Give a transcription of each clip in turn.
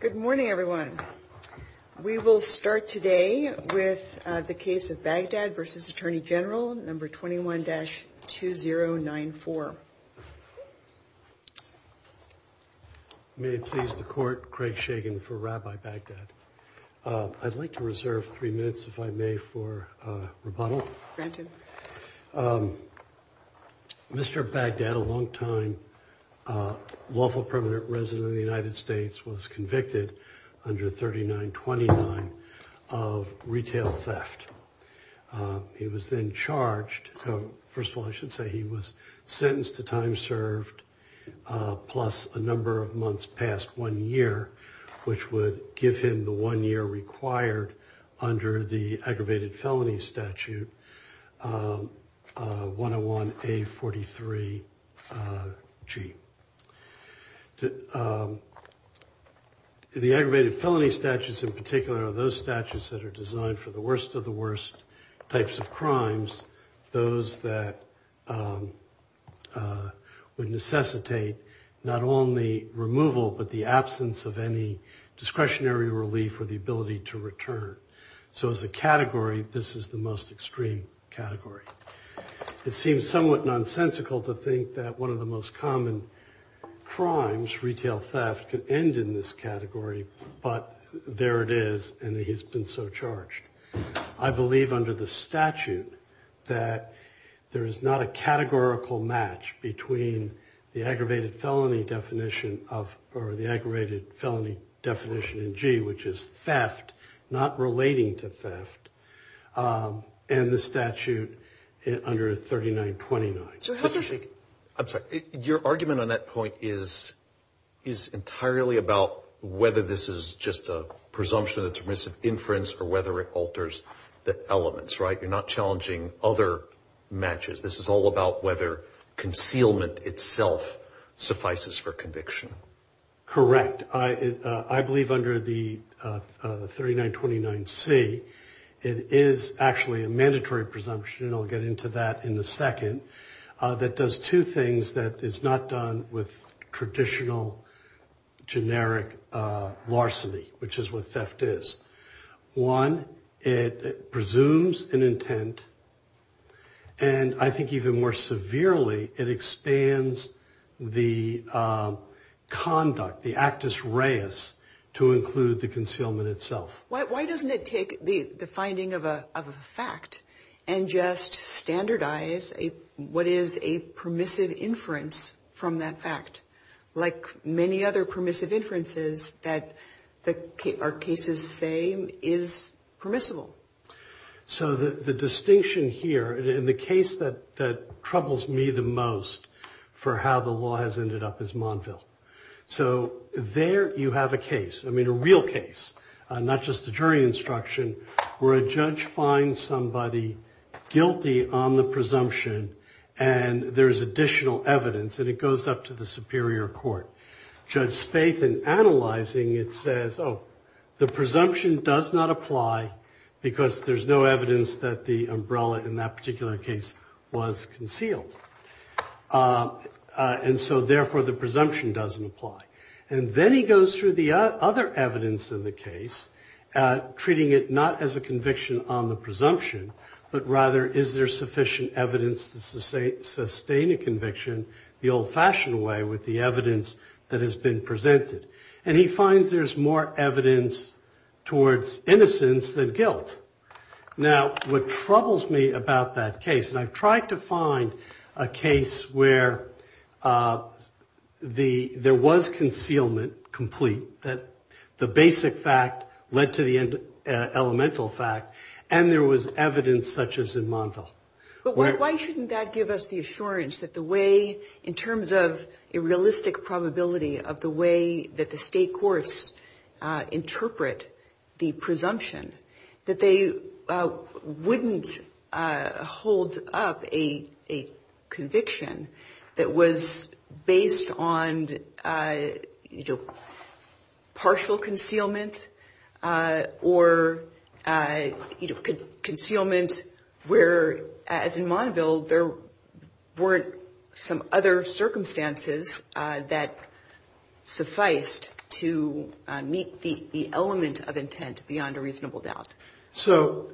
Good morning, everyone. We will start today with the case of Baghdad v. Attorney General No. 21-2094. May it please the Court, Craig Shagan for Rabbi Baghdad. I'd like to reserve three minutes, if I may, for rebuttal. Mr. Baghdad, a longtime lawful permanent resident of the United States, was convicted under 3929 of retail theft. He was then charged, first of all I should say he was sentenced to time served plus a number of months past one year, which would give him the one year required under the aggravated felony statute 101A43G. The aggravated felony statutes in particular are those statutes that are designed for the worst of the worst types of crimes, those that would necessitate not only removal but the absence of any discretionary relief or the ability to return. So as a category, this is the most extreme category. It seems somewhat nonsensical to think that one of the most common crimes, can end in this category, but there it is and he's been so charged. I believe under the statute that there is not a categorical match between the aggravated felony definition of or the aggravated felony definition in G, which is theft, not relating to theft, and the statute under 3929. I'm sorry, your argument on that point is entirely about whether this is just a presumption that's remissive inference or whether it alters the elements, right? You're not challenging other matches. This is all about whether concealment itself suffices for conviction. Correct. I believe under the 3929C, it is actually a mandatory presumption, and I'll get into that in a second, that does two things that is not done with traditional generic larceny, which is what theft is. One, it presumes an intent, and I think even more severely, it expands the conduct, the actus reus, to include the concealment itself. Why doesn't it take the finding of a fact and just standardize what is a permissive inference from that fact? Like many other permissive inferences, that are cases same is permissible. So the distinction here, and the case that troubles me the most for how the law has ended up is Monville. So there you have a case, I mean a real case, not just a jury instruction, where a judge finds somebody guilty on the presumption, and there's additional evidence, and it goes up to the superior court. Judge Spaeth, in analyzing it, says, oh, the presumption does not apply, because there's no evidence that the umbrella in that particular case was concealed. And so, therefore, the presumption doesn't apply. And then he goes through the other evidence in the case, treating it not as a conviction on the presumption, but rather, is there sufficient evidence to sustain a conviction the old-fashioned way with the evidence that has been presented? And he finds there's more evidence towards innocence than guilt. Now, what troubles me about that case, and I've tried to find a case where there was concealment complete, that the basic fact led to the elemental fact, and there was evidence such as in Monville. But why shouldn't that give us the assurance that the way, in terms of a realistic probability, of the way that the state courts interpret the presumption, that they wouldn't hold up a conviction that was based on partial concealment or concealment where, as in Monville, there weren't some other circumstances that sufficed to meet the element of intent beyond a reasonable doubt? So,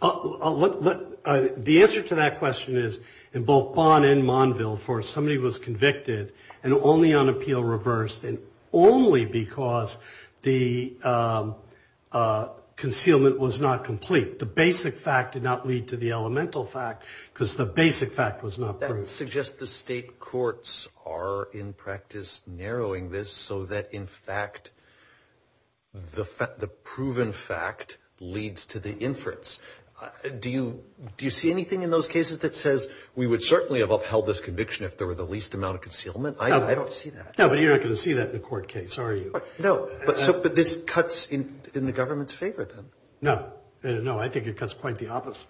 the answer to that question is, in both Bond and Monville, for somebody who was convicted, and only on appeal reversed, and only because the concealment was not complete. The basic fact did not lead to the elemental fact, because the basic fact was not proof. That suggests the state courts are, in practice, narrowing this so that, in fact, the proven fact leads to the inference. Do you see anything in those cases that says we would certainly have upheld this conviction if there were the least amount of concealment? No, but you're not going to see that in a court case, are you? No, but this cuts in the government's favor, then? No, I think it cuts quite the opposite.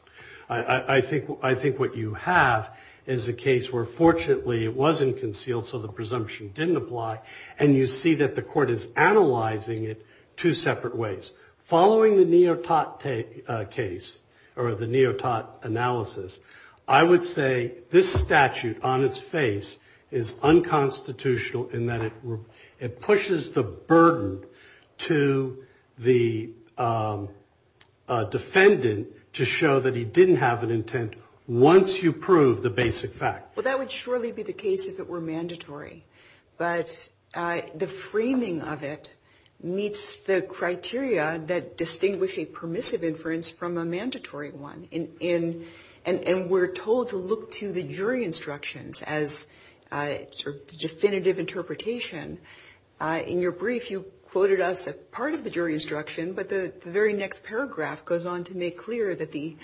I think what you have is a case where, fortunately, it wasn't concealed, so the presumption didn't apply, and you see that the court is analyzing it two separate ways. Following the Neotate case, or the Neotate analysis, I would say this statute, on its face, is unconstitutional in that it pushes the burden to the defendant to show that he didn't have an intent once you proved the basic fact. Well, that would surely be the case if it were mandatory, but the framing of it meets the criteria that distinguish a permissive inference from a mandatory one. And we're told to look to the jury instructions as the definitive interpretation. In your brief, you quoted us as part of the jury instruction, but the very next paragraph goes on to make clear that the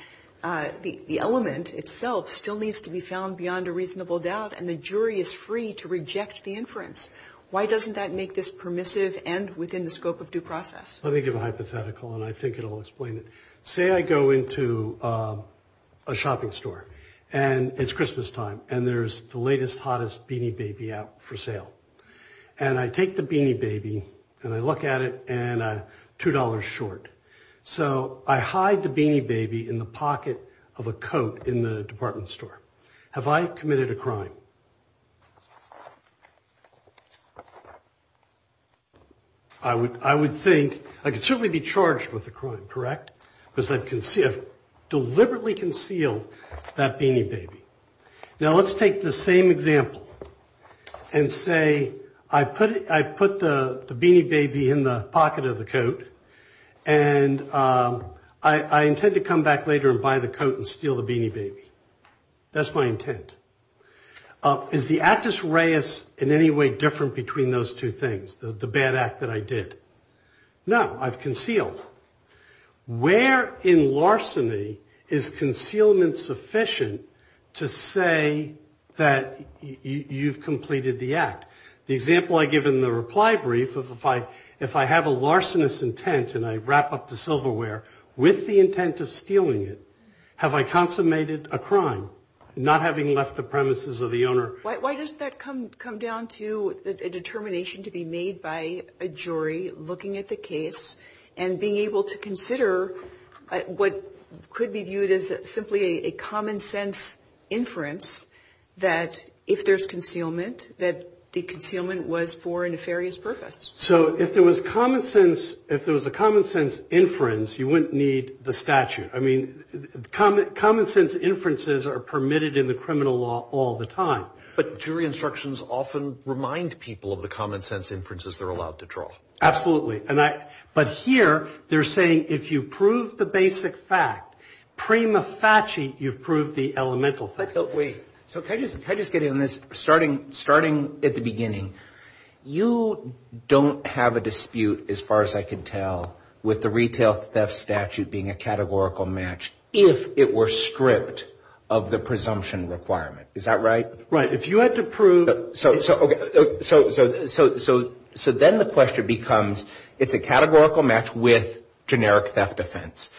element itself still needs to be found beyond a reasonable doubt, and the jury is free to reject the inference. Why doesn't that make this permissive and within the scope of due process? Let me give a hypothetical, and I think it'll explain it. Say I go into a shopping store, and it's Christmas time, and there's the latest, hottest Beanie Baby out for sale. And I take the Beanie Baby, and I look at it, and $2 short. So I hide the Beanie Baby in the pocket of a coat in the department store. Have I committed a crime? I would think I could certainly be charged with a crime, correct? Because I've deliberately concealed that Beanie Baby. Now, let's take the same example and say I put the Beanie Baby in the pocket of the coat, and I intend to come back later and buy the coat and steal the Beanie Baby. That's my intent. Is the actus reus in any way different between those two things, the bad act that I did? No, I've concealed. Where in larceny is concealment sufficient to say that you've completed the act? The example I give in the reply brief, if I have a larcenous intent, and I wrap up the silverware with the intent of stealing it, have I consummated a crime? Not having left the premises of the owner. Why doesn't that come down to a determination to be made by a jury looking at the case and being able to consider what could be viewed as simply a common sense inference that if there's concealment, that the intent is to steal the Beanie Baby. So if there was common sense, if there was a common sense inference, you wouldn't need the statute. I mean, common sense inferences are permitted in the criminal law all the time. But jury instructions often remind people of the common sense inferences they're allowed to draw. Absolutely. But here they're saying if you prove the basic fact, prima facie, you've proved the elemental fact. Wait. So can I just get in on this? Starting at the beginning, you don't have a dispute, as far as I can tell, with the retail theft statute being a categorical match if it were stripped of the presumption requirement. Is that right? Right. If you had to prove... So then the question becomes, it's a categorical match with generic theft offense.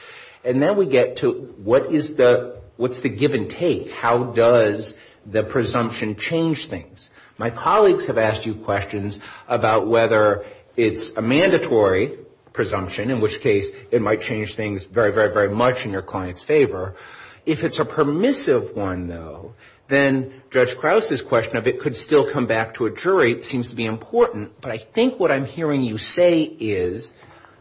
And then we get to what is the, what's the give and take? How does the presumption change things? My colleagues have asked you questions about whether it's a mandatory presumption, in which case it might change things very, very, very much in your client's favor. If it's a permissive one, though, then Judge Krause's question of it could still come back to a jury. It seems to be important. But I think what I'm hearing you say is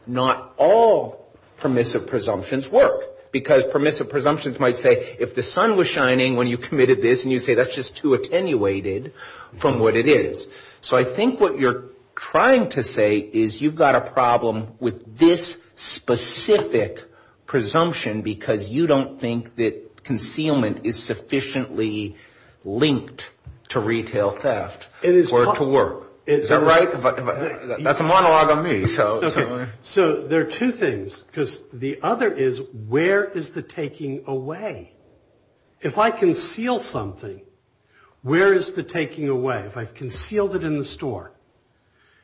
not all permissive presumptions work. Because permissive presumptions might say if the sun was shining when you committed this, and you say that's just too attenuated from what it is. So I think what you're trying to say is you've got a problem with this specific presumption because you don't think that concealment is sufficiently linked to retail theft or to work. Is that right? That's a monologue on me. So there are two things. Because the other is, where is the taking away? If I conceal something, where is the taking away? If I've concealed it in the store?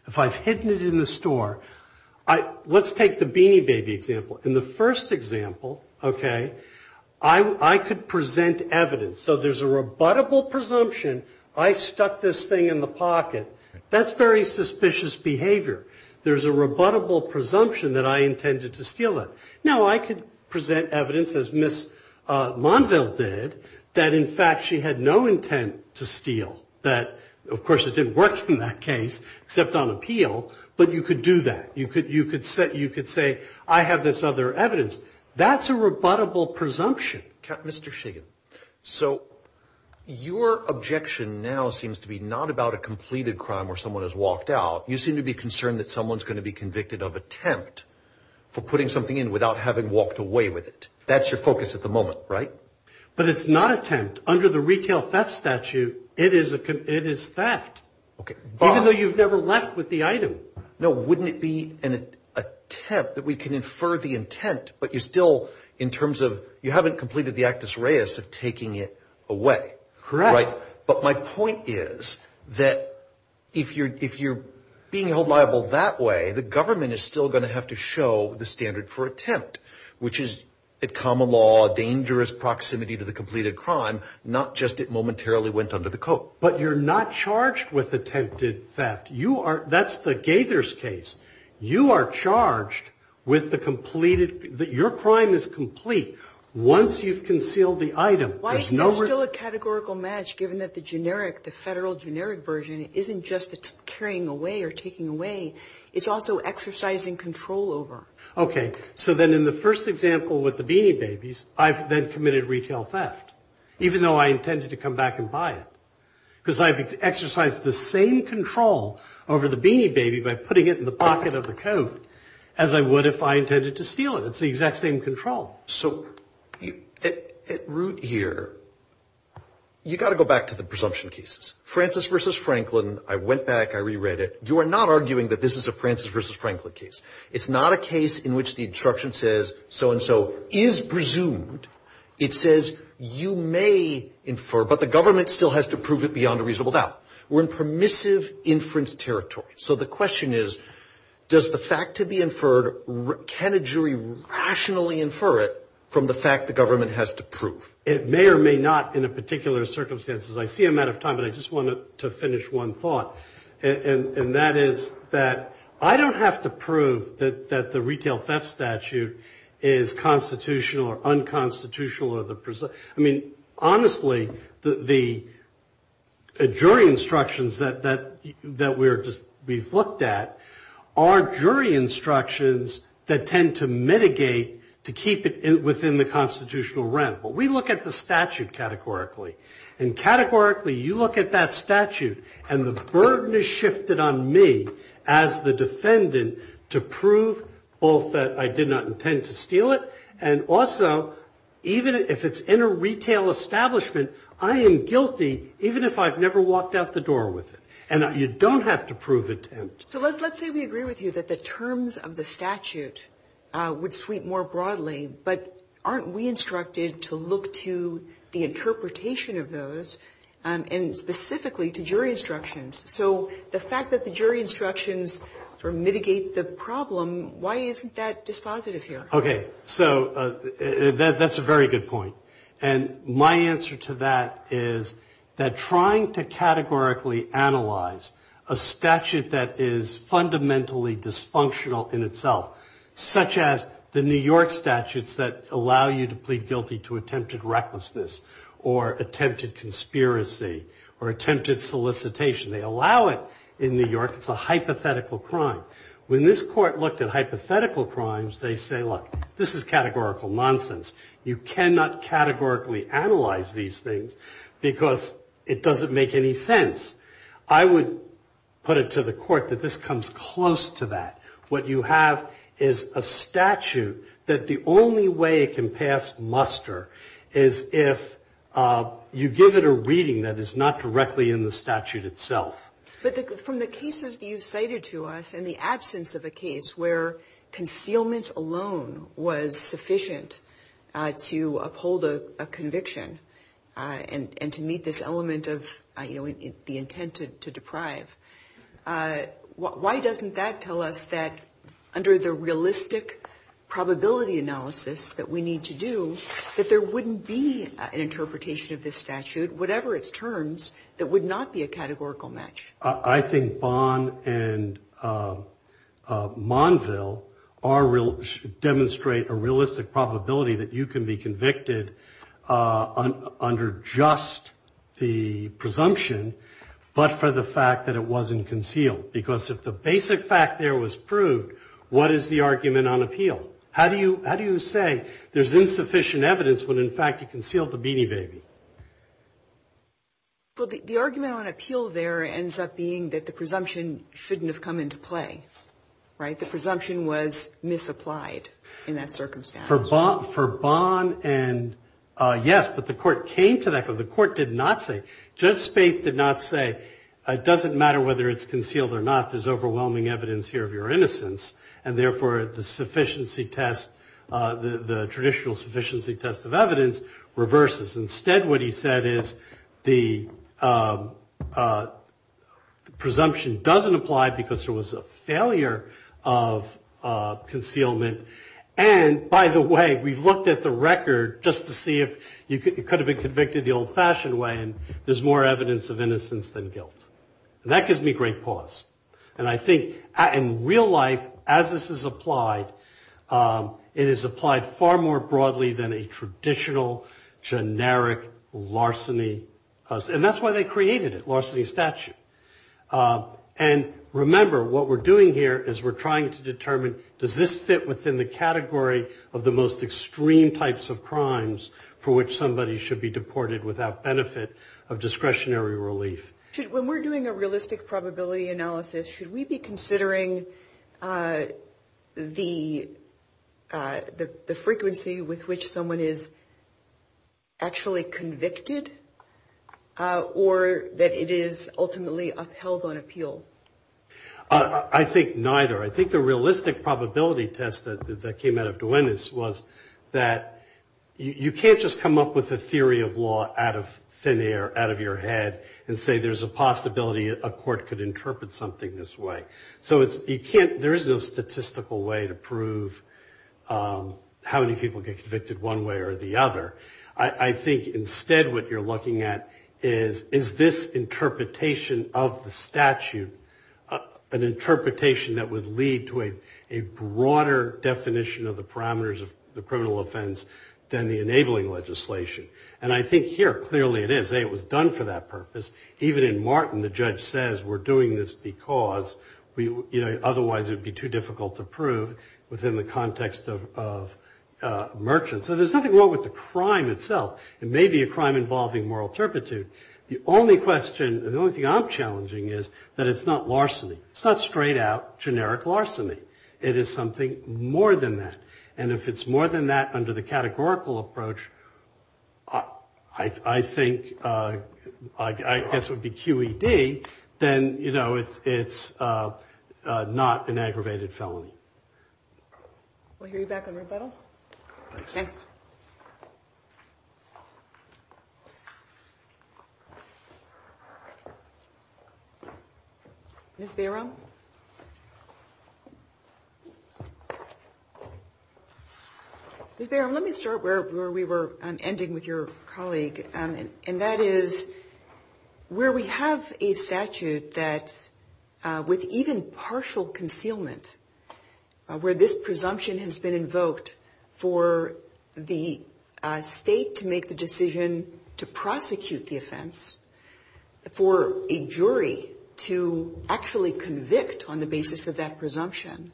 If I've hidden it in the store? Let's take the Beanie Baby example. In the first example, okay, I could present evidence. So there's a rebuttable presumption. I stuck this thing in the pocket. That's very suspicious behavior. There's a rebuttable presumption that I intended to steal it. Now, I could present evidence, as Ms. Monville did, that in fact she had no intent to steal. That, of course, it didn't work in that case, except on appeal. But you could do that. You could say, I have this other evidence. That's a rebuttable presumption. Okay. Mr. Shiggin, so your objection now seems to be not about a completed crime where someone has walked out. You seem to be concerned that someone's going to be convicted of attempt for putting something in without having walked away with it. That's your focus at the moment, right? But it's not attempt. Under the retail theft statute, it is theft, even though you've never left with the item. No, wouldn't it be an attempt that we can infer the intent, but you still, in terms of, you haven't completed the actus reus of taking it away. Correct. But my point is that if you're being held liable that way, the government is still going to have to show the standard for attempt, which is a common law, a dangerous proximity to the completed crime, not just it momentarily went under the coat. But you're not charged with attempted theft. That's the Gaither's case. You are charged with the completed, your crime is complete once you've concealed the item. Why is that still a categorical match given that the generic, the federal generic version isn't just the carrying away or taking away, it's also exercising control over. Okay. So then in the first example with the Beanie Babies, I've then committed retail theft, even though I intended to come back and buy it. Because I've exercised the same control over the Beanie Baby by putting it in the pocket of the coat as I would if I intended to steal it. It's the exact same control. So at root here, you've got to go back to the presumption cases. Francis v. Franklin, I went back, I reread it. You are not arguing that this is a Francis v. Franklin case. It's not a case in which the instruction says so-and-so is presumed. It says you may infer, but the government still has to prove it beyond a reasonable doubt. We're in permissive inference territory. So the question is, does the fact to be inferred, can a jury rationally infer it from the fact the government has to prove? It may or may not in a particular circumstances. I see I'm out of time, but I just wanted to finish one thought. And that is that I don't have to prove that the retail theft statute is constitutional or unconstitutional. I mean, honestly, the jury instructions that we've looked at are jury instructions that tend to mitigate to keep it within the constitutional realm. But we look at the statute categorically. And categorically, you look at that statute. And the burden is shifted on me as the defendant to prove both that I did not intend to steal it and also even if it's in a retail establishment, I am guilty even if I've never walked out the door with it. And you don't have to prove intent. So let's say we agree with you that the terms of the statute would sweep more broadly, but aren't we instructed to look to the interpretation of those and specifically to jury instructions? So the fact that the jury instructions mitigate the problem, why isn't that dispositive here? Okay. So that's a very good point. And my answer to that is that trying to categorically analyze a statute that is fundamentally dysfunctional in itself, such as the New York statutes that allow you to plead guilty to attempted recklessness or attempted conspiracy or attempted solicitation. They allow it in New York. It's a hypothetical crime. When this Court looked at hypothetical crimes, they say, look, this is categorical nonsense. You cannot categorically analyze these things because it doesn't make any sense. I would put it to the Court that this comes close to that. What you have is a statute that the only way it can pass muster is if you give it a reading that is not directly in the statute itself. But from the cases that you cited to us and the absence of a case where concealment alone was sufficient to uphold a conviction and to meet this element of, you know, the intent to deprive, why doesn't that tell us that under the realistic probability analysis that we need to do, that there wouldn't be an interpretation of this statute, whatever its terms, that would not be a categorical match? I think Bonn and Monville demonstrate a realistic probability that you can be convicted under just the presumption, but for the fact that it wasn't concealed. Because if the basic fact there was proved, what is the argument on appeal? How do you say there's insufficient evidence when, in fact, you concealed the Beanie Baby? Well, the argument on appeal there ends up being that the presumption shouldn't have come into play, right? The presumption was misapplied in that circumstance. For Bonn and, yes, but the Court came to that, but the Court did not say, Judge Spaeth did not say it doesn't matter whether it's concealed or not, there's overwhelming evidence here of your innocence, and therefore the sufficiency test, the traditional sufficiency test of evidence reverses. Instead what he said is the presumption doesn't apply because there was a failure of concealment, and by the way, we've looked at the record just to see if it could have been convicted the old-fashioned way, and there's more evidence of innocence than guilt. And that gives me great pause, and I think in real life, as this is applied, it is applied far more broadly than a traditional generic larceny, and that's why they created it, larceny statute. And remember, what we're doing here is we're trying to determine does this fit within the category of the most extreme types of crimes for which somebody should be deported without benefit of discretionary relief. When we're doing a realistic probability analysis, should we be considering the frequency with which someone is actually convicted, or that it is ultimately upheld on appeal? I think neither. I think the realistic probability test that came out of Duenas was that you can't just come up with a theory of law out of thin air, out of your head, and say there's a possibility a court could interpret something this way. So there is no statistical way to prove how many people get convicted one way or the other. I think instead what you're looking at is is this interpretation of the statute an interpretation that would lead to a broader definition of the parameters of the criminal offense than the enabling legislation. And I think here clearly it is. A, it was done for that purpose. Even in Martin, the judge says we're doing this because otherwise it would be too difficult to prove within the context of merchants. So there's nothing wrong with the crime itself. It may be a crime involving moral turpitude. The only question, the only thing I'm challenging is that it's not larceny. It's not straight out generic larceny. It is something more than that. And if it's more than that under the categorical approach, I think, I guess it would be QED. Then, you know, it's not an aggravated felony. We'll hear you back on rebuttal. Thanks. Ms. Bayram? Ms. Bayram, let me start where we were ending with your colleague, and that is where we have a statute that with even partial concealment, where this presumption has been invoked for the state to make the decision to prosecute the offense, for a jury to actually convict on the basis of that presumption.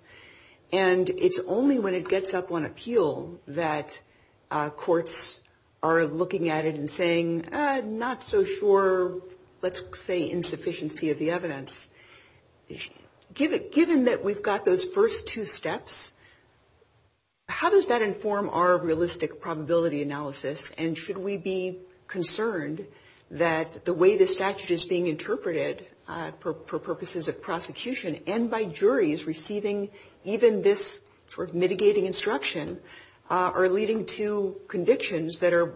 And it's only when it gets up on appeal that courts are looking at it and saying, not so sure, let's say insufficiency of the evidence. Given that we've got those first two steps, how does that inform our realistic probability analysis? And should we be concerned that the way the statute is being interpreted for purposes of prosecution and by juries receiving even this sort of mitigating instruction are leading to convictions that are,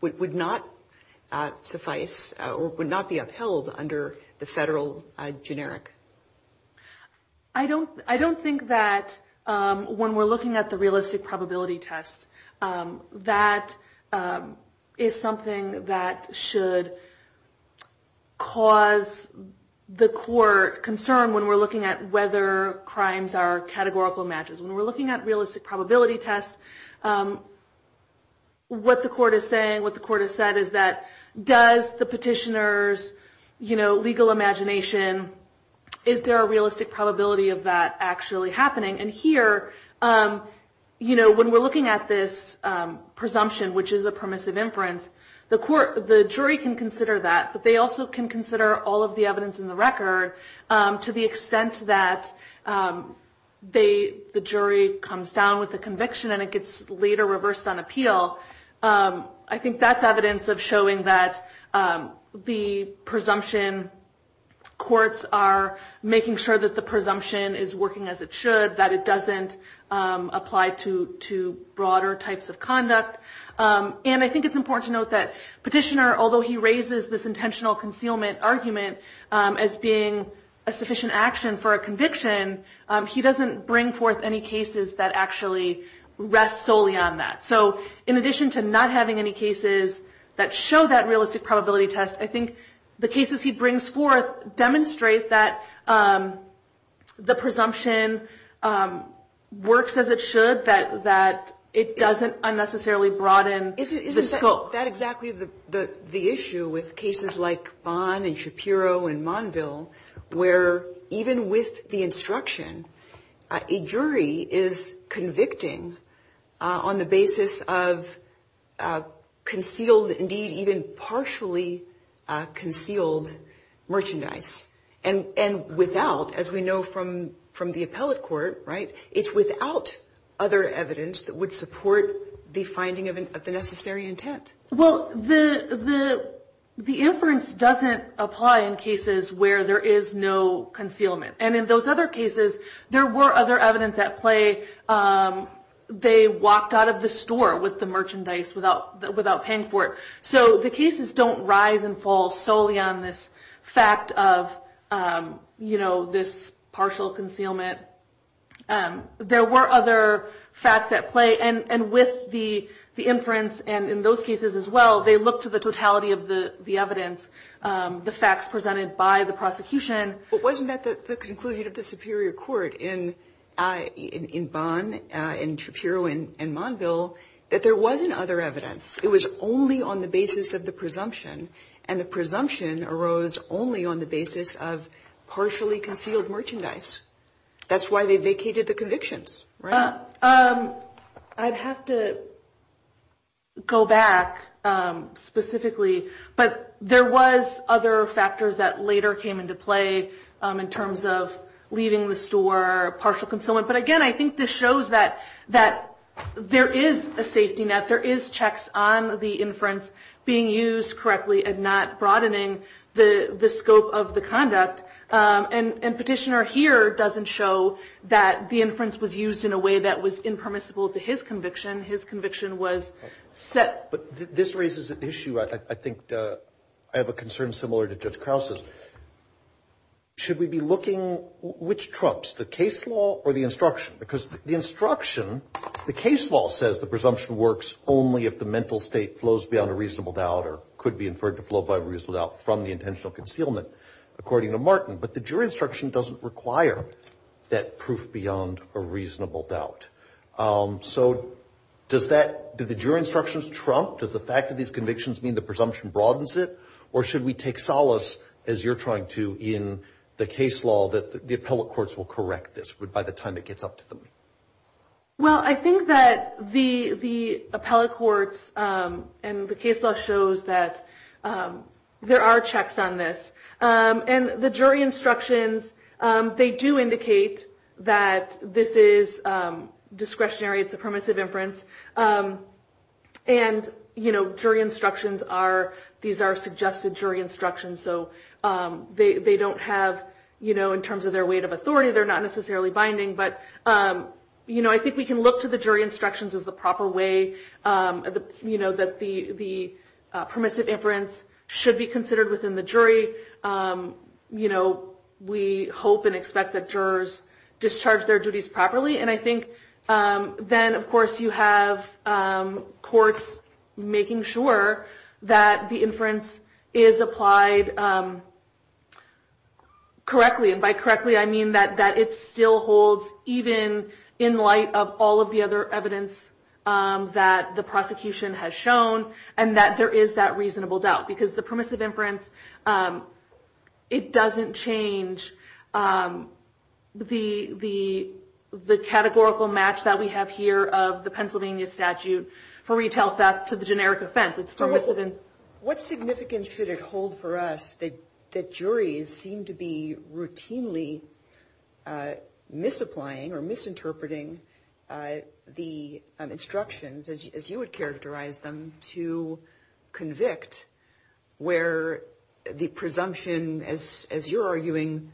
would not suffice or would not be upheld under the federal generic? I don't think that when we're looking at the realistic probability test, that is something that should cause the court concern when we're looking at whether crimes are categorical matches. When we're looking at realistic probability tests, what the court is saying, what the court has said, is that does the petitioner's legal imagination, is there a realistic probability of that actually happening? And here, when we're looking at this presumption, which is a permissive inference, the jury can consider that, but they also can consider all of the evidence in the record to the extent that the jury comes down with a conviction and it gets later reversed on appeal. I think that's evidence of showing that the presumption courts are making sure that the presumption is working as it should, that it doesn't apply to broader types of conduct. And I think it's important to note that petitioner, although he raises this intentional concealment argument as being a sufficient action for a conviction, he doesn't bring forth any cases that actually rest solely on that. So in addition to not having any cases that show that realistic probability test, I think the cases he brings forth demonstrate that the presumption works as it should, that it doesn't unnecessarily broaden the scope. Well, that exactly the issue with cases like Vaughn and Shapiro and Monville, where even with the instruction, a jury is convicting on the basis of concealed, indeed, even partially concealed merchandise. And without, as we know from the appellate court, right, it's without other evidence that would support the finding of the necessary intent. Well, the inference doesn't apply in cases where there is no concealment. And in those other cases, there were other evidence at play. They walked out of the store with the merchandise without paying for it. So the cases don't rise and fall solely on this fact of this partial concealment. There were other facts at play. And with the inference and in those cases as well, they look to the totality of the evidence, the facts presented by the prosecution. But wasn't that the conclusion of the superior court in Vaughn and Shapiro and Monville, that there wasn't other evidence? It was only on the basis of the presumption, and the presumption arose only on the basis of partially concealed merchandise. That's why they vacated the convictions. I'd have to go back specifically, but there was other factors that later came into play in terms of leaving the store, partial concealment. But again, I think this shows that there is a safety net. There is checks on the inference being used correctly and not broadening the scope of the conduct. And Petitioner here doesn't show that the inference was used in a way that was impermissible to his conviction. His conviction was set. But this raises an issue I think I have a concern similar to Judge Krause's. Should we be looking which trumps, the case law or the instruction? Because the instruction, the case law says the presumption works only if the mental state flows beyond a reasonable doubt, or could be inferred to flow beyond a reasonable doubt from the intentional concealment, according to Martin. But the jury instruction doesn't require that proof beyond a reasonable doubt. So does that, do the jury instructions trump, does the fact that these convictions mean the presumption broadens it, or should we take solace as you're trying to in the case law that the appellate courts will correct this by the time it gets up to them? Well, I think that the appellate courts and the case law shows that there are checks on this. And the jury instructions, they do indicate that this is discretionary, it's a permissive inference. And jury instructions are, these are suggested jury instructions. So they don't have, in terms of their weight of authority, they're not necessarily binding. But I think we can look to the jury instructions as the proper way that the permissive inference should be considered within the jury. We hope and expect that jurors discharge their duties properly. And I think then, of course, you have courts making sure that the inference is applied correctly. And by correctly, I mean that it still holds, even in light of all of the other evidence that the prosecution has shown, and that there is that reasonable doubt. Because the permissive inference, it doesn't change the jury's decision. From the categorical match that we have here of the Pennsylvania statute for retail theft to the generic offense, it's permissive. What significance should it hold for us that juries seem to be routinely misapplying or misinterpreting the instructions, as you would characterize them, to convict where the presumption, as you're arguing,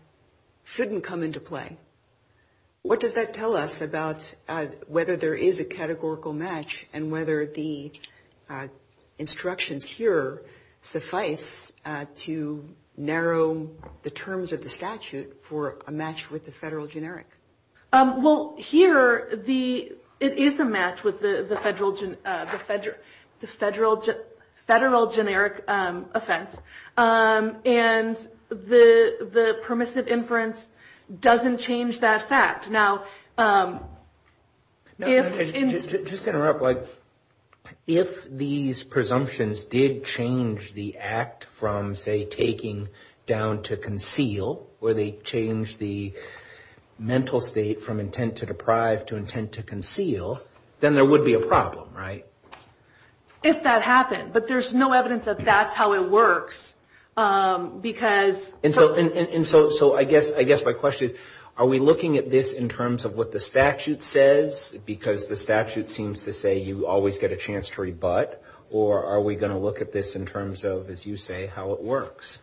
shouldn't come into play? What does that tell us about whether there is a categorical match and whether the instructions here suffice to narrow the terms of the statute for a match with the federal generic? Well, here, it is a match with the federal generic offense. And the permissive inference doesn't change that fact. Just to interrupt, if these presumptions did change the act from, say, taking down to conceal, or they changed the mental state from intent to deprive to intent to conceal, then there would be a problem, right? If that happened. But there's no evidence that that's how it works, because... And so I guess my question is, are we looking at this in terms of what the statute says, because the statute seems to say you always get a chance to rebut, or are we going to look at this in terms of, as you say, how it works?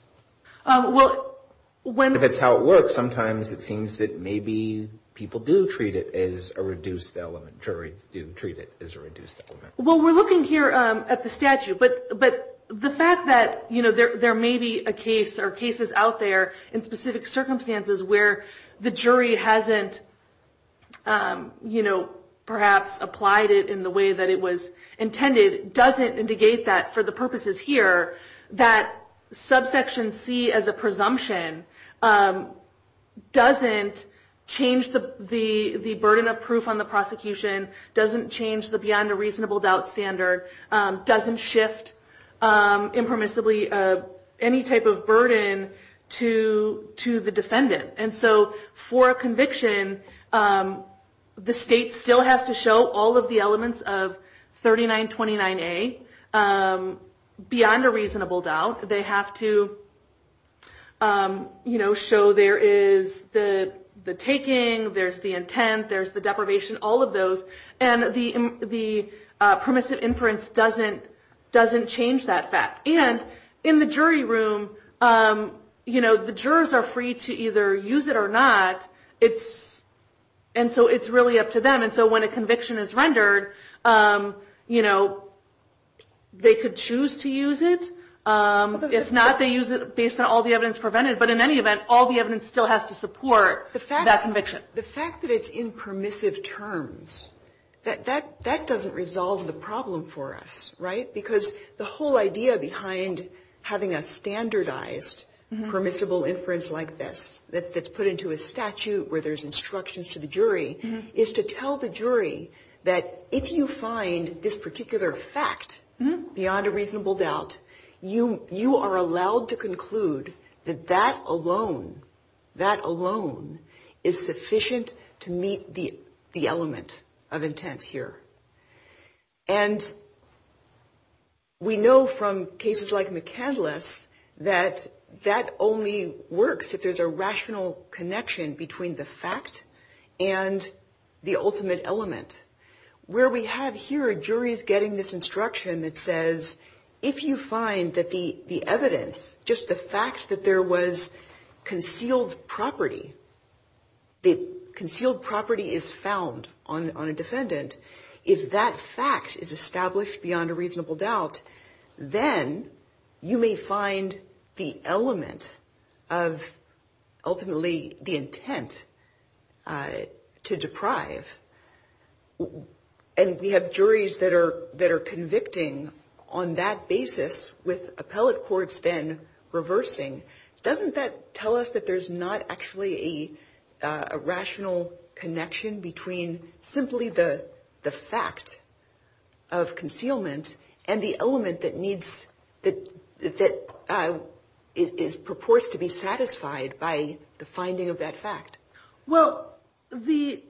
If it's how it works, sometimes it seems that maybe people do treat it as a reduced element, juries do treat it as a reduced element. I'm looking here at the statute, but the fact that there may be a case or cases out there in specific circumstances where the jury hasn't, you know, perhaps applied it in the way that it was intended, doesn't indicate that, for the purposes here, that subsection C as a presumption doesn't change the burden of proof on the prosecution, doesn't change the beyond a reasonable doubt standard. Doesn't shift impermissibly any type of burden to the defendant. And so for a conviction, the state still has to show all of the elements of 3929A beyond a reasonable doubt. They have to, you know, show there is the taking, there's the intent, there's the deprivation, all of those. And the permissive inference doesn't change that fact. And in the jury room, you know, the jurors are free to either use it or not. And so it's really up to them. And so when a conviction is rendered, you know, they could choose to use it. If not, they use it based on all the evidence prevented, but in any event, all the evidence still has to support that conviction. The fact that it's in permissive terms, that doesn't resolve the problem for us, right? Because the whole idea behind having a standardized permissible inference like this, that's put into a statute where there's instructions to the jury, is to tell the jury that if you find this particular fact beyond a reasonable doubt, you may be able to use it. And so you are allowed to conclude that that alone, that alone is sufficient to meet the element of intent here. And we know from cases like McCandless that that only works if there's a rational connection between the fact and the ultimate element. Where we have here, a jury is getting this instruction that says, if you find that the evidence, just the fact that there was concealed property, the concealed property is found on a defendant, if that fact is established beyond a reasonable doubt, then you may find the element of ultimately the intent to deprive. And we have juries that are convicting on that basis with appellate courts then reversing. Doesn't that tell us that there's not actually a rational connection between simply the fact of concealment and the element that needs, that purports to be satisfied by the finding of that fact? Well, the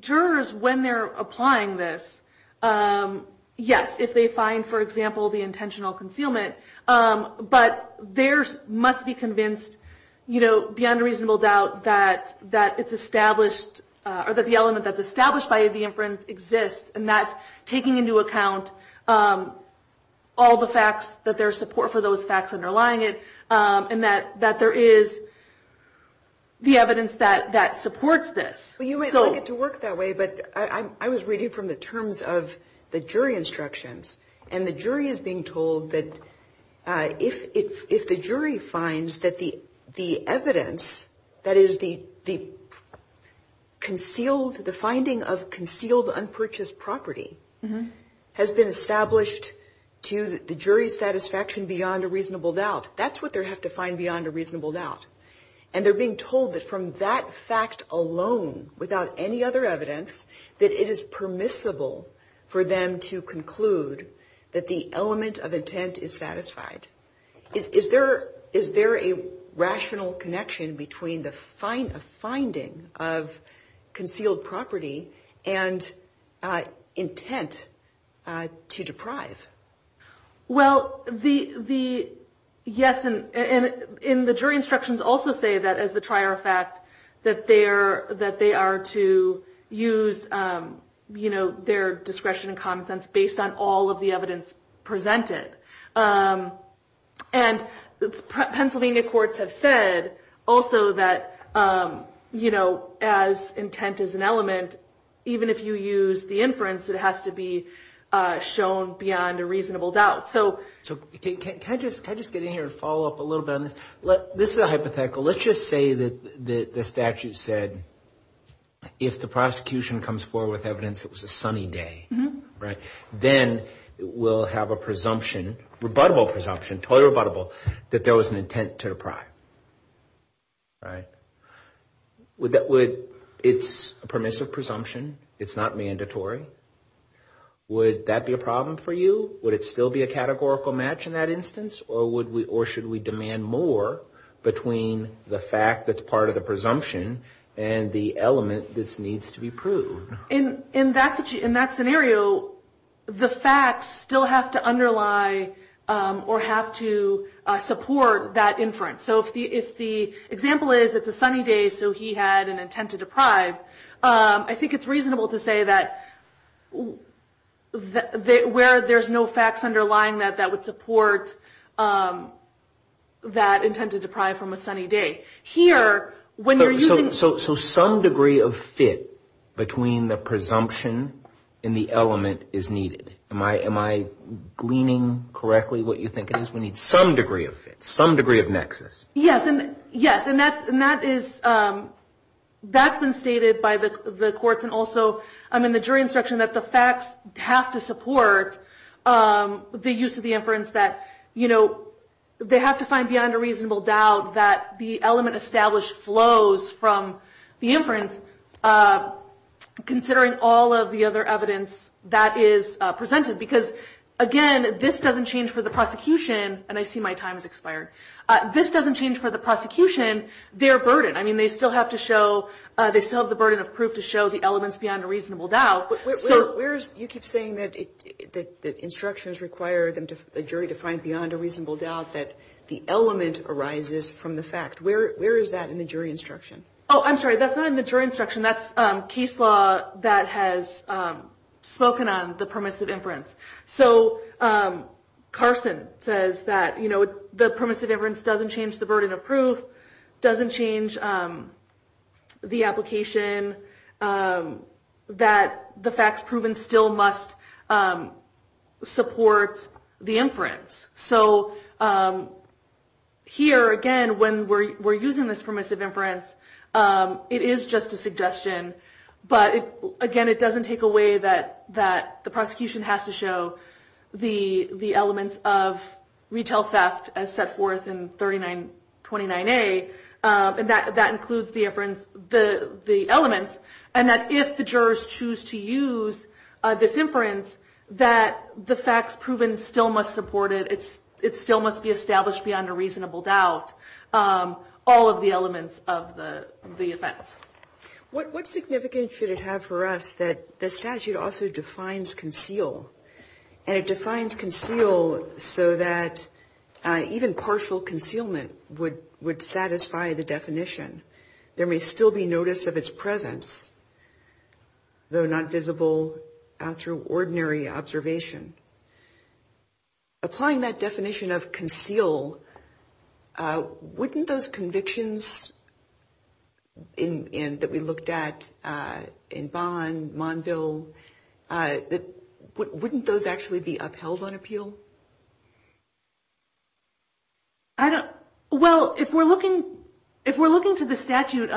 jurors, when they're applying this, yes, if they find, for example, the intentional concealment. But there must be convinced, you know, beyond a reasonable doubt that it's established, or that the element that's established by the inference exists. And that's taking into account all the facts, that there's support for those facts underlying it. And that there is the evidence that supports this. Well, you might like it to work that way, but I was reading from the terms of the jury instructions. And the jury is being told that if the jury finds that the evidence, that is the concealed, the finding of concealed, unpurchased property, has been established to the jury's satisfaction beyond a reasonable doubt. And they're being told that from that fact alone, without any other evidence, that it is permissible for them to conclude that the element of intent is satisfied. Is there a rational connection between the finding of concealed property and intent to deprive? Well, yes, and the jury instructions also say that, as the trier of fact, that they are to use, you know, their discretion and common sense based on all of the evidence presented. And Pennsylvania courts have said also that, you know, as intent is an element, even if you use the inference, it has to be shown beyond reasonable doubt. So can I just get in here and follow up a little bit on this? This is a hypothetical. Let's just say that the statute said if the prosecution comes forward with evidence it was a sunny day, right, then we'll have a presumption, rebuttable presumption, totally rebuttable, that there was an intent to deprive, right? It's a permissive presumption. It's not mandatory. Would that be a problem for you? Would it still be a categorical match in that instance? Or should we demand more between the fact that's part of the presumption and the element that needs to be proved? In that scenario, the facts still have to underlie or have to support that inference. So if the example is it's a sunny day, so he had an intent to deprive, I think it's reasonable to say that, you know, it's a presumption. Where there's no facts underlying that that would support that intent to deprive from a sunny day. So some degree of fit between the presumption and the element is needed. Am I gleaning correctly what you think it is? We need some degree of fit, some degree of nexus. Yes, and that's been stated by the courts. And also, I'm in the jury instruction that the facts have to support the use of the inference. That, you know, they have to find beyond a reasonable doubt that the element established flows from the inference. Considering all of the other evidence that is presented, because again, this doesn't change for the prosecution. And I see my time has expired. This doesn't change for the prosecution. Their burden, I mean, they still have to show, they still have the burden of proof to show the elements beyond a reasonable doubt. Where is, you keep saying that the instructions require the jury to find beyond a reasonable doubt that the element arises from the fact. Where is that in the jury instruction? Oh, I'm sorry, that's not in the jury instruction. That's case law that has spoken on the permissive inference. So Carson says that, you know, the permissive inference doesn't change the burden of proof. Doesn't change the application that the facts proven still must support the inference. So here again, when we're using this permissive inference, it is just a suggestion. But again, it doesn't take away that the prosecution has to show the elements of retail theft as set forth in 3929A. And that includes the elements. And that if the jurors choose to use this inference, that the facts proven still must support it. It still must be established beyond a reasonable doubt, all of the elements of the offense. What significance should it have for us that the statute also defines conceal? And it defines conceal so that even partial concealment would satisfy the purpose of the statute. It would satisfy the definition. There may still be notice of its presence, though not visible through ordinary observation. Applying that definition of conceal, wouldn't those convictions that we looked at in Bonn, Monville, wouldn't those actually be upheld on appeal? Well, if we're looking to the statute,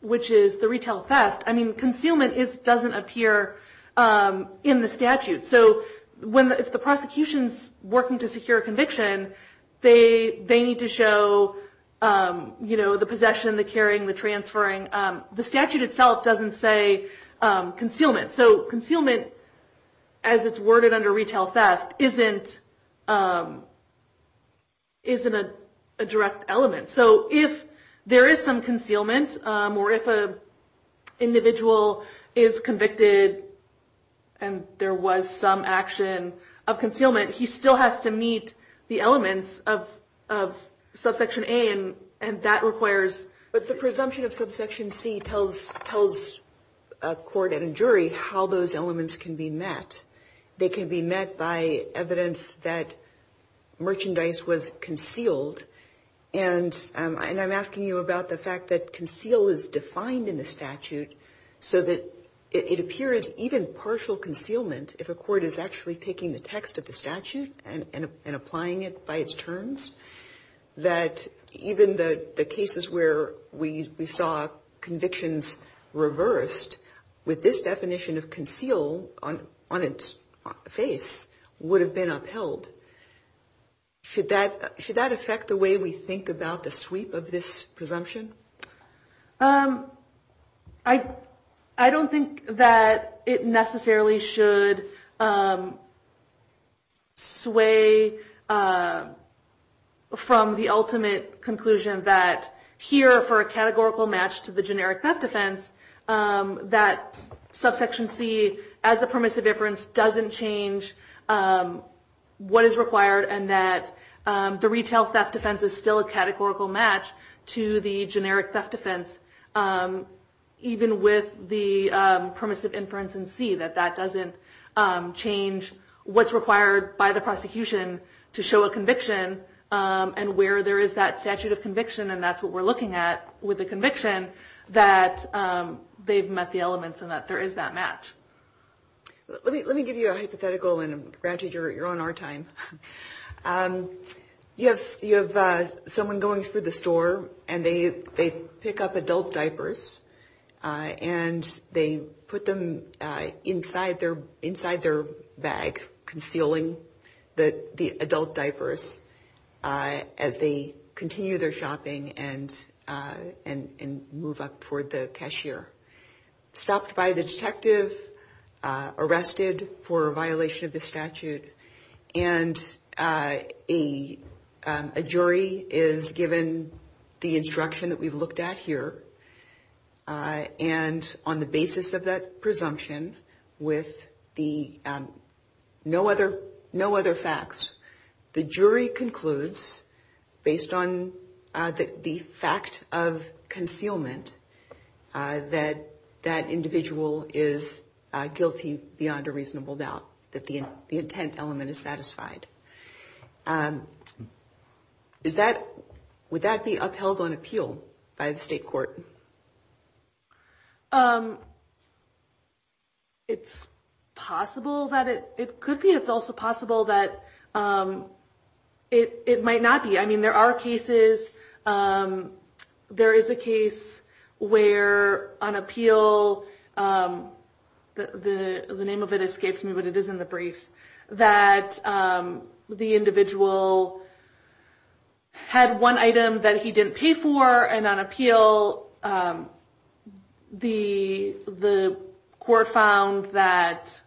which is the retail theft, I mean, concealment doesn't appear in the statute. So if the prosecution's working to secure a conviction, they need to show the possession, the carrying, the transferring. The statute itself doesn't say concealment. So concealment, as it's worded under retail theft, isn't a direct element. So if there is some concealment, or if an individual is convicted and there was some action of concealment, he still has to meet the elements of subsection A, and that requires... how those elements can be met. They can be met by evidence that merchandise was concealed. And I'm asking you about the fact that conceal is defined in the statute so that it appears even partial concealment, if a court is actually taking the text of the statute and applying it by its terms, that even the cases where we saw convictions reversed with this definition of concealment, on its face, would have been upheld. Should that affect the way we think about the sweep of this presumption? I don't think that it necessarily should sway from the ultimate conclusion that here for a categorical match to the generic theft defense, that subsection C, as a permissive inference, doesn't change what is required, and that the retail theft defense is still a categorical match to the generic theft defense, even with the permissive inference in C, that that doesn't change what's required by the prosecution to show a conviction, and where there is that statute of conviction, and that's what we're looking at with the conviction, that they've met the elements and that there is that match. Let me give you a hypothetical, and granted, you're on our time. You have someone going through the store, and they pick up adult diapers, and they put them inside their bag, concealing the adult diapers, as they continue their shopping and move up toward the cashier. Stopped by the detective, arrested for violation of the statute, and a jury is given the instruction that we've looked at here, and on the basis of that presumption, with no other facts, the jury concludes, based on the fact of concealment, that that individual is guilty beyond a reasonable doubt, that the intent element is satisfied. Would that be upheld on appeal by the state court? It's possible that it could be. It's also possible that it might not be. I mean, there are cases, there is a case where on appeal, the name of it escapes me, but it is in the briefs, that the individual had one item that he didn't pay for, and on appeal, the court found that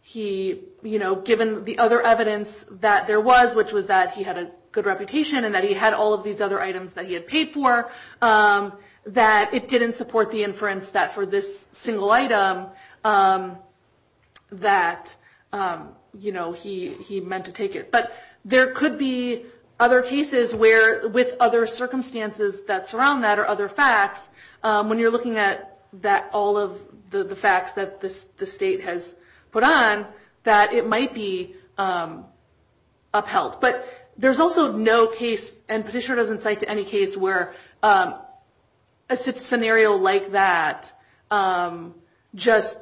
he, given the other evidence that there was, which was that he had a good reputation, and that he had all of these other items that he had paid for, that it didn't support the inference that for this single item, that he meant to take it. But there could be other cases where, with other circumstances that surround that, or other facts, when you're looking at all of the facts that the state has put on, that it might be upheld. But there's also no case, and Petitioner doesn't cite to any case, where a scenario like that, just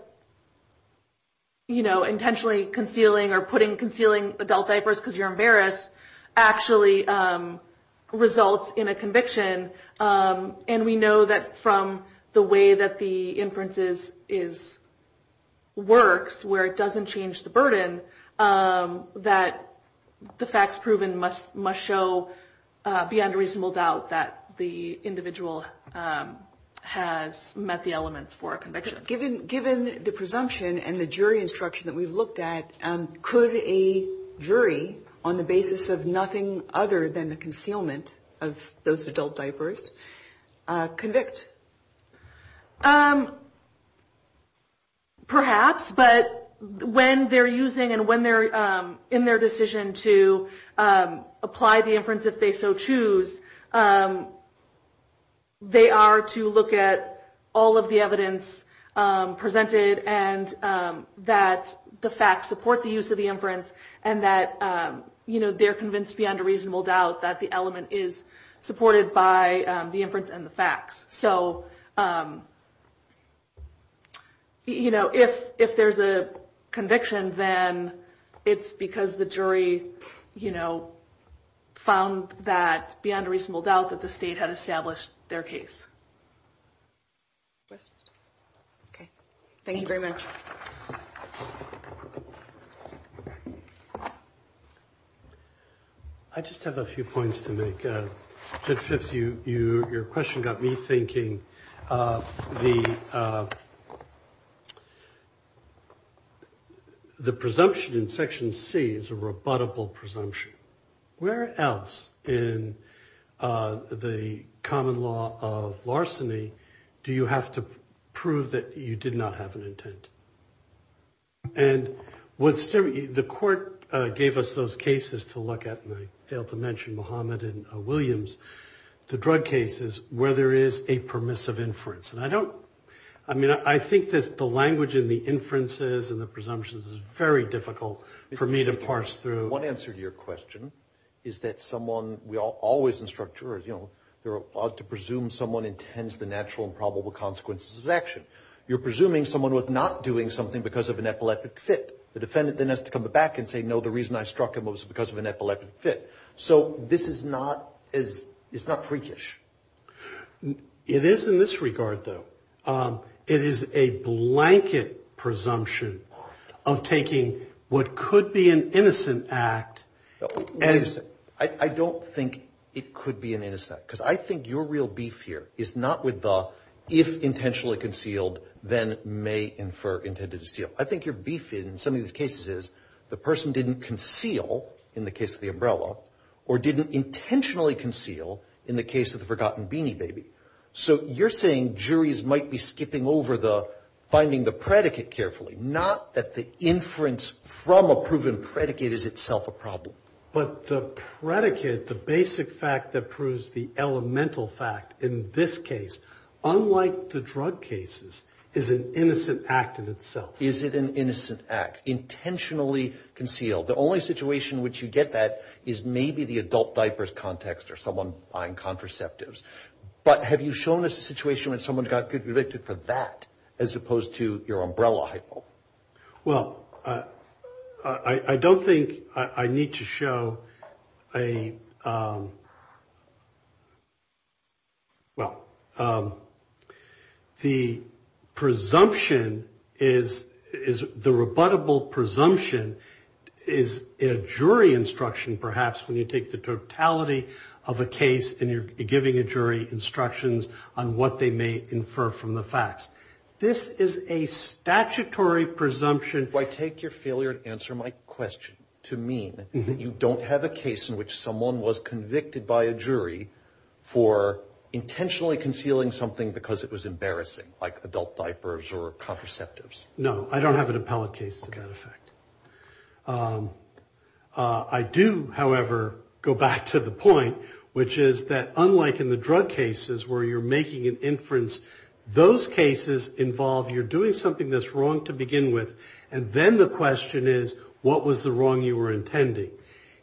intentionally concealing or putting, concealing adult diapers because you're embarrassed, actually results in a conviction. And we know that from the way that the inference works, where it doesn't change the burden, that the facts proven must show beyond a reasonable doubt that the individual has met the elements for a conviction. Given the presumption and the jury instruction that we've looked at, could a jury, on the basis of nothing other than the concealment of those adult diapers, convict? Perhaps, but when they're using, and when they're in their decision to apply the inference if they so choose, they are to look at all of the evidence presented, and that the facts support the use of the inference, and that they're convinced beyond a reasonable doubt that the element is supported by the inference and the facts. So if there's a conviction, then it's because the jury found that beyond a reasonable doubt that the state had established their case. Thank you very much. I just have a few points to make. Judge Phipps, your question got me thinking. The presumption in Section C is a rebuttable presumption. Where else in the common law of larceny do you have to prove that you did not have an intent? And the court gave us those cases to look at, and I failed to mention Mohamed and Williams, the drug cases, where there is a permissive inference. I think the language in the inferences and the presumptions is very difficult for me to parse through. One answer to your question is that someone, we always instruct jurors, to presume someone intends the natural and probable consequences of an action. You're presuming someone was not doing something because of an epileptic fit. The defendant then has to come back and say, no, the reason I struck him was because of an epileptic fit. So this is not freakish. It is in this regard, though. It is a blanket presumption of taking what could be an innocent act. I don't think it could be an innocent act, because I think your real beef here is not with the if intentionally concealed, then may infer intended to steal. I think your beef in some of these cases is the person didn't conceal in the case of the umbrella or didn't intentionally conceal in the case of the forgotten beanie baby. So you're saying juries might be skipping over the finding the predicate carefully, not that the inference from a proven predicate is itself a problem. But the predicate, the basic fact that proves the elemental fact in this case, unlike the drug cases, is an innocent act in itself. Is it an innocent act, intentionally concealed? The only situation in which you get that is maybe the adult diapers context or someone buying contraceptives. But have you shown us a situation when someone got convicted for that, as opposed to your umbrella hypo? Well, I don't think I need to show a well, the presumption is the rebuttable presumption is a jury instruction. And perhaps when you take the totality of a case and you're giving a jury instructions on what they may infer from the facts, this is a statutory presumption. I take your failure to answer my question to mean that you don't have a case in which someone was convicted by a jury for intentionally concealing something because it was embarrassing like adult diapers or contraceptives. No, I don't have an appellate case. Okay. I do, however, go back to the point, which is that unlike in the drug cases where you're making an inference, those cases involve you're doing something that's wrong to begin with. And then the question is, what was the wrong you were intending?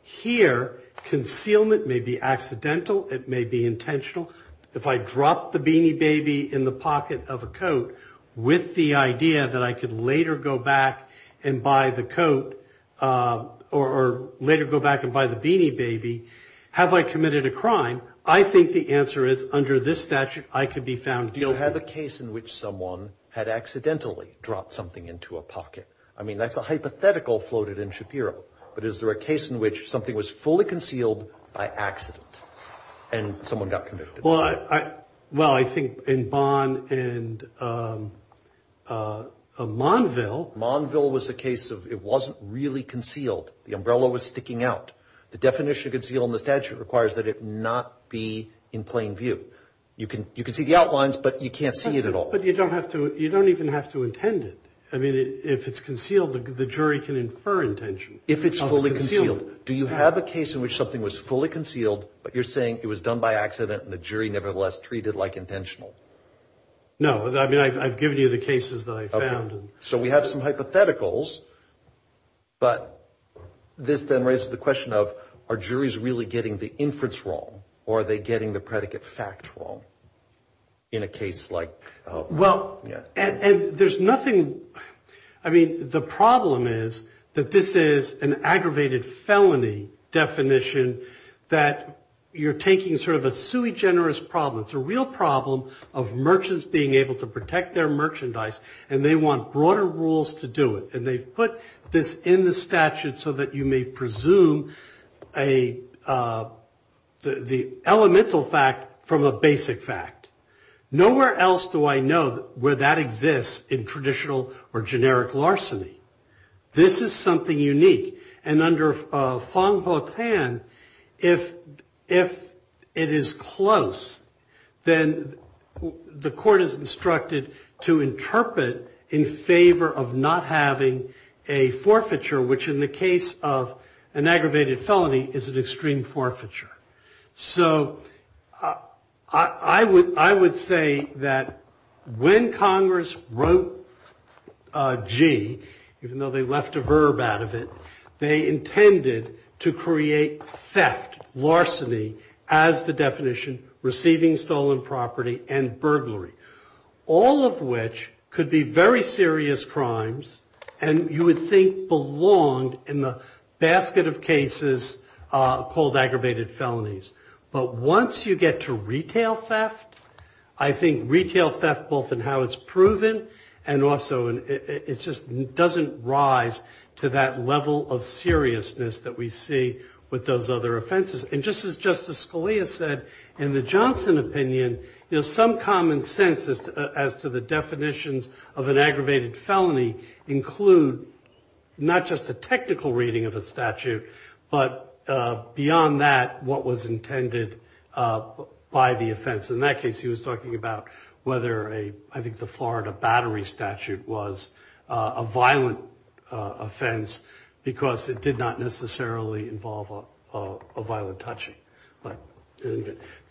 Here, concealment may be accidental. It may be intentional. If I drop the beanie baby in the pocket of a coat with the idea that I could later go back and buy the coat or later go back and buy the beanie baby, have I committed a crime? I think the answer is under this statute, I could be found guilty. Do you have a case in which someone had accidentally dropped something into a pocket? I mean, that's a hypothetical floated in Shapiro. But is there a case in which something was fully concealed by accident and someone got convicted? Well, I think in Bonn and Monville. Monville was a case of it wasn't really concealed. The umbrella was sticking out. The definition of concealment in the statute requires that it not be in plain view. You can see the outlines, but you can't see it at all. But you don't have to you don't even have to intend it. I mean, if it's concealed, the jury can infer intention if it's fully concealed. Do you have a case in which something was fully concealed? But you're saying it was done by accident and the jury nevertheless treated like intentional. No, I mean, I've given you the cases that I found. So we have some hypotheticals, but this then raises the question of our juries really getting the inference wrong or are they getting the predicate fact wrong in a case like. Well, yeah. And there's nothing. I mean, the problem is that this is an aggravated felony definition that you're taking sort of a sui generis problem. It's a real problem of merchants being able to protect their merchandise and they want broader rules to do it. And they've put this in the statute so that you may presume the elemental fact from a basic fact. Nowhere else do I know where that exists in traditional or generic larceny. This is something unique. And under Fong Ho Tan, if it is close, then the court is instructed to interpret in favor of not having a forfeiture, which in the case of an aggravated felony is an extreme forfeiture. So I would say that when Congress wrote G, even though they left a verb out of it, they intended to create theft, larceny, as the definition, receiving stolen property and burglary, all of which could be very serious crimes and you would think belonged in the basket of cases called aggravated felonies. But once you get to retail theft, I think retail theft, both in how it's proven and also it just doesn't rise to that level of seriousness that we see with those other offenses. And just as Justice Scalia said in the Johnson opinion, some common sense as to the definitions of an aggravated felony include not just a technical reading of a statute, but beyond that, what was intended by the offense. In that case, he was talking about whether I think the Florida battery statute was a violent offense because it did not necessarily involve a violent touching.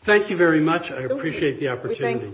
Thank you very much. I appreciate the opportunity.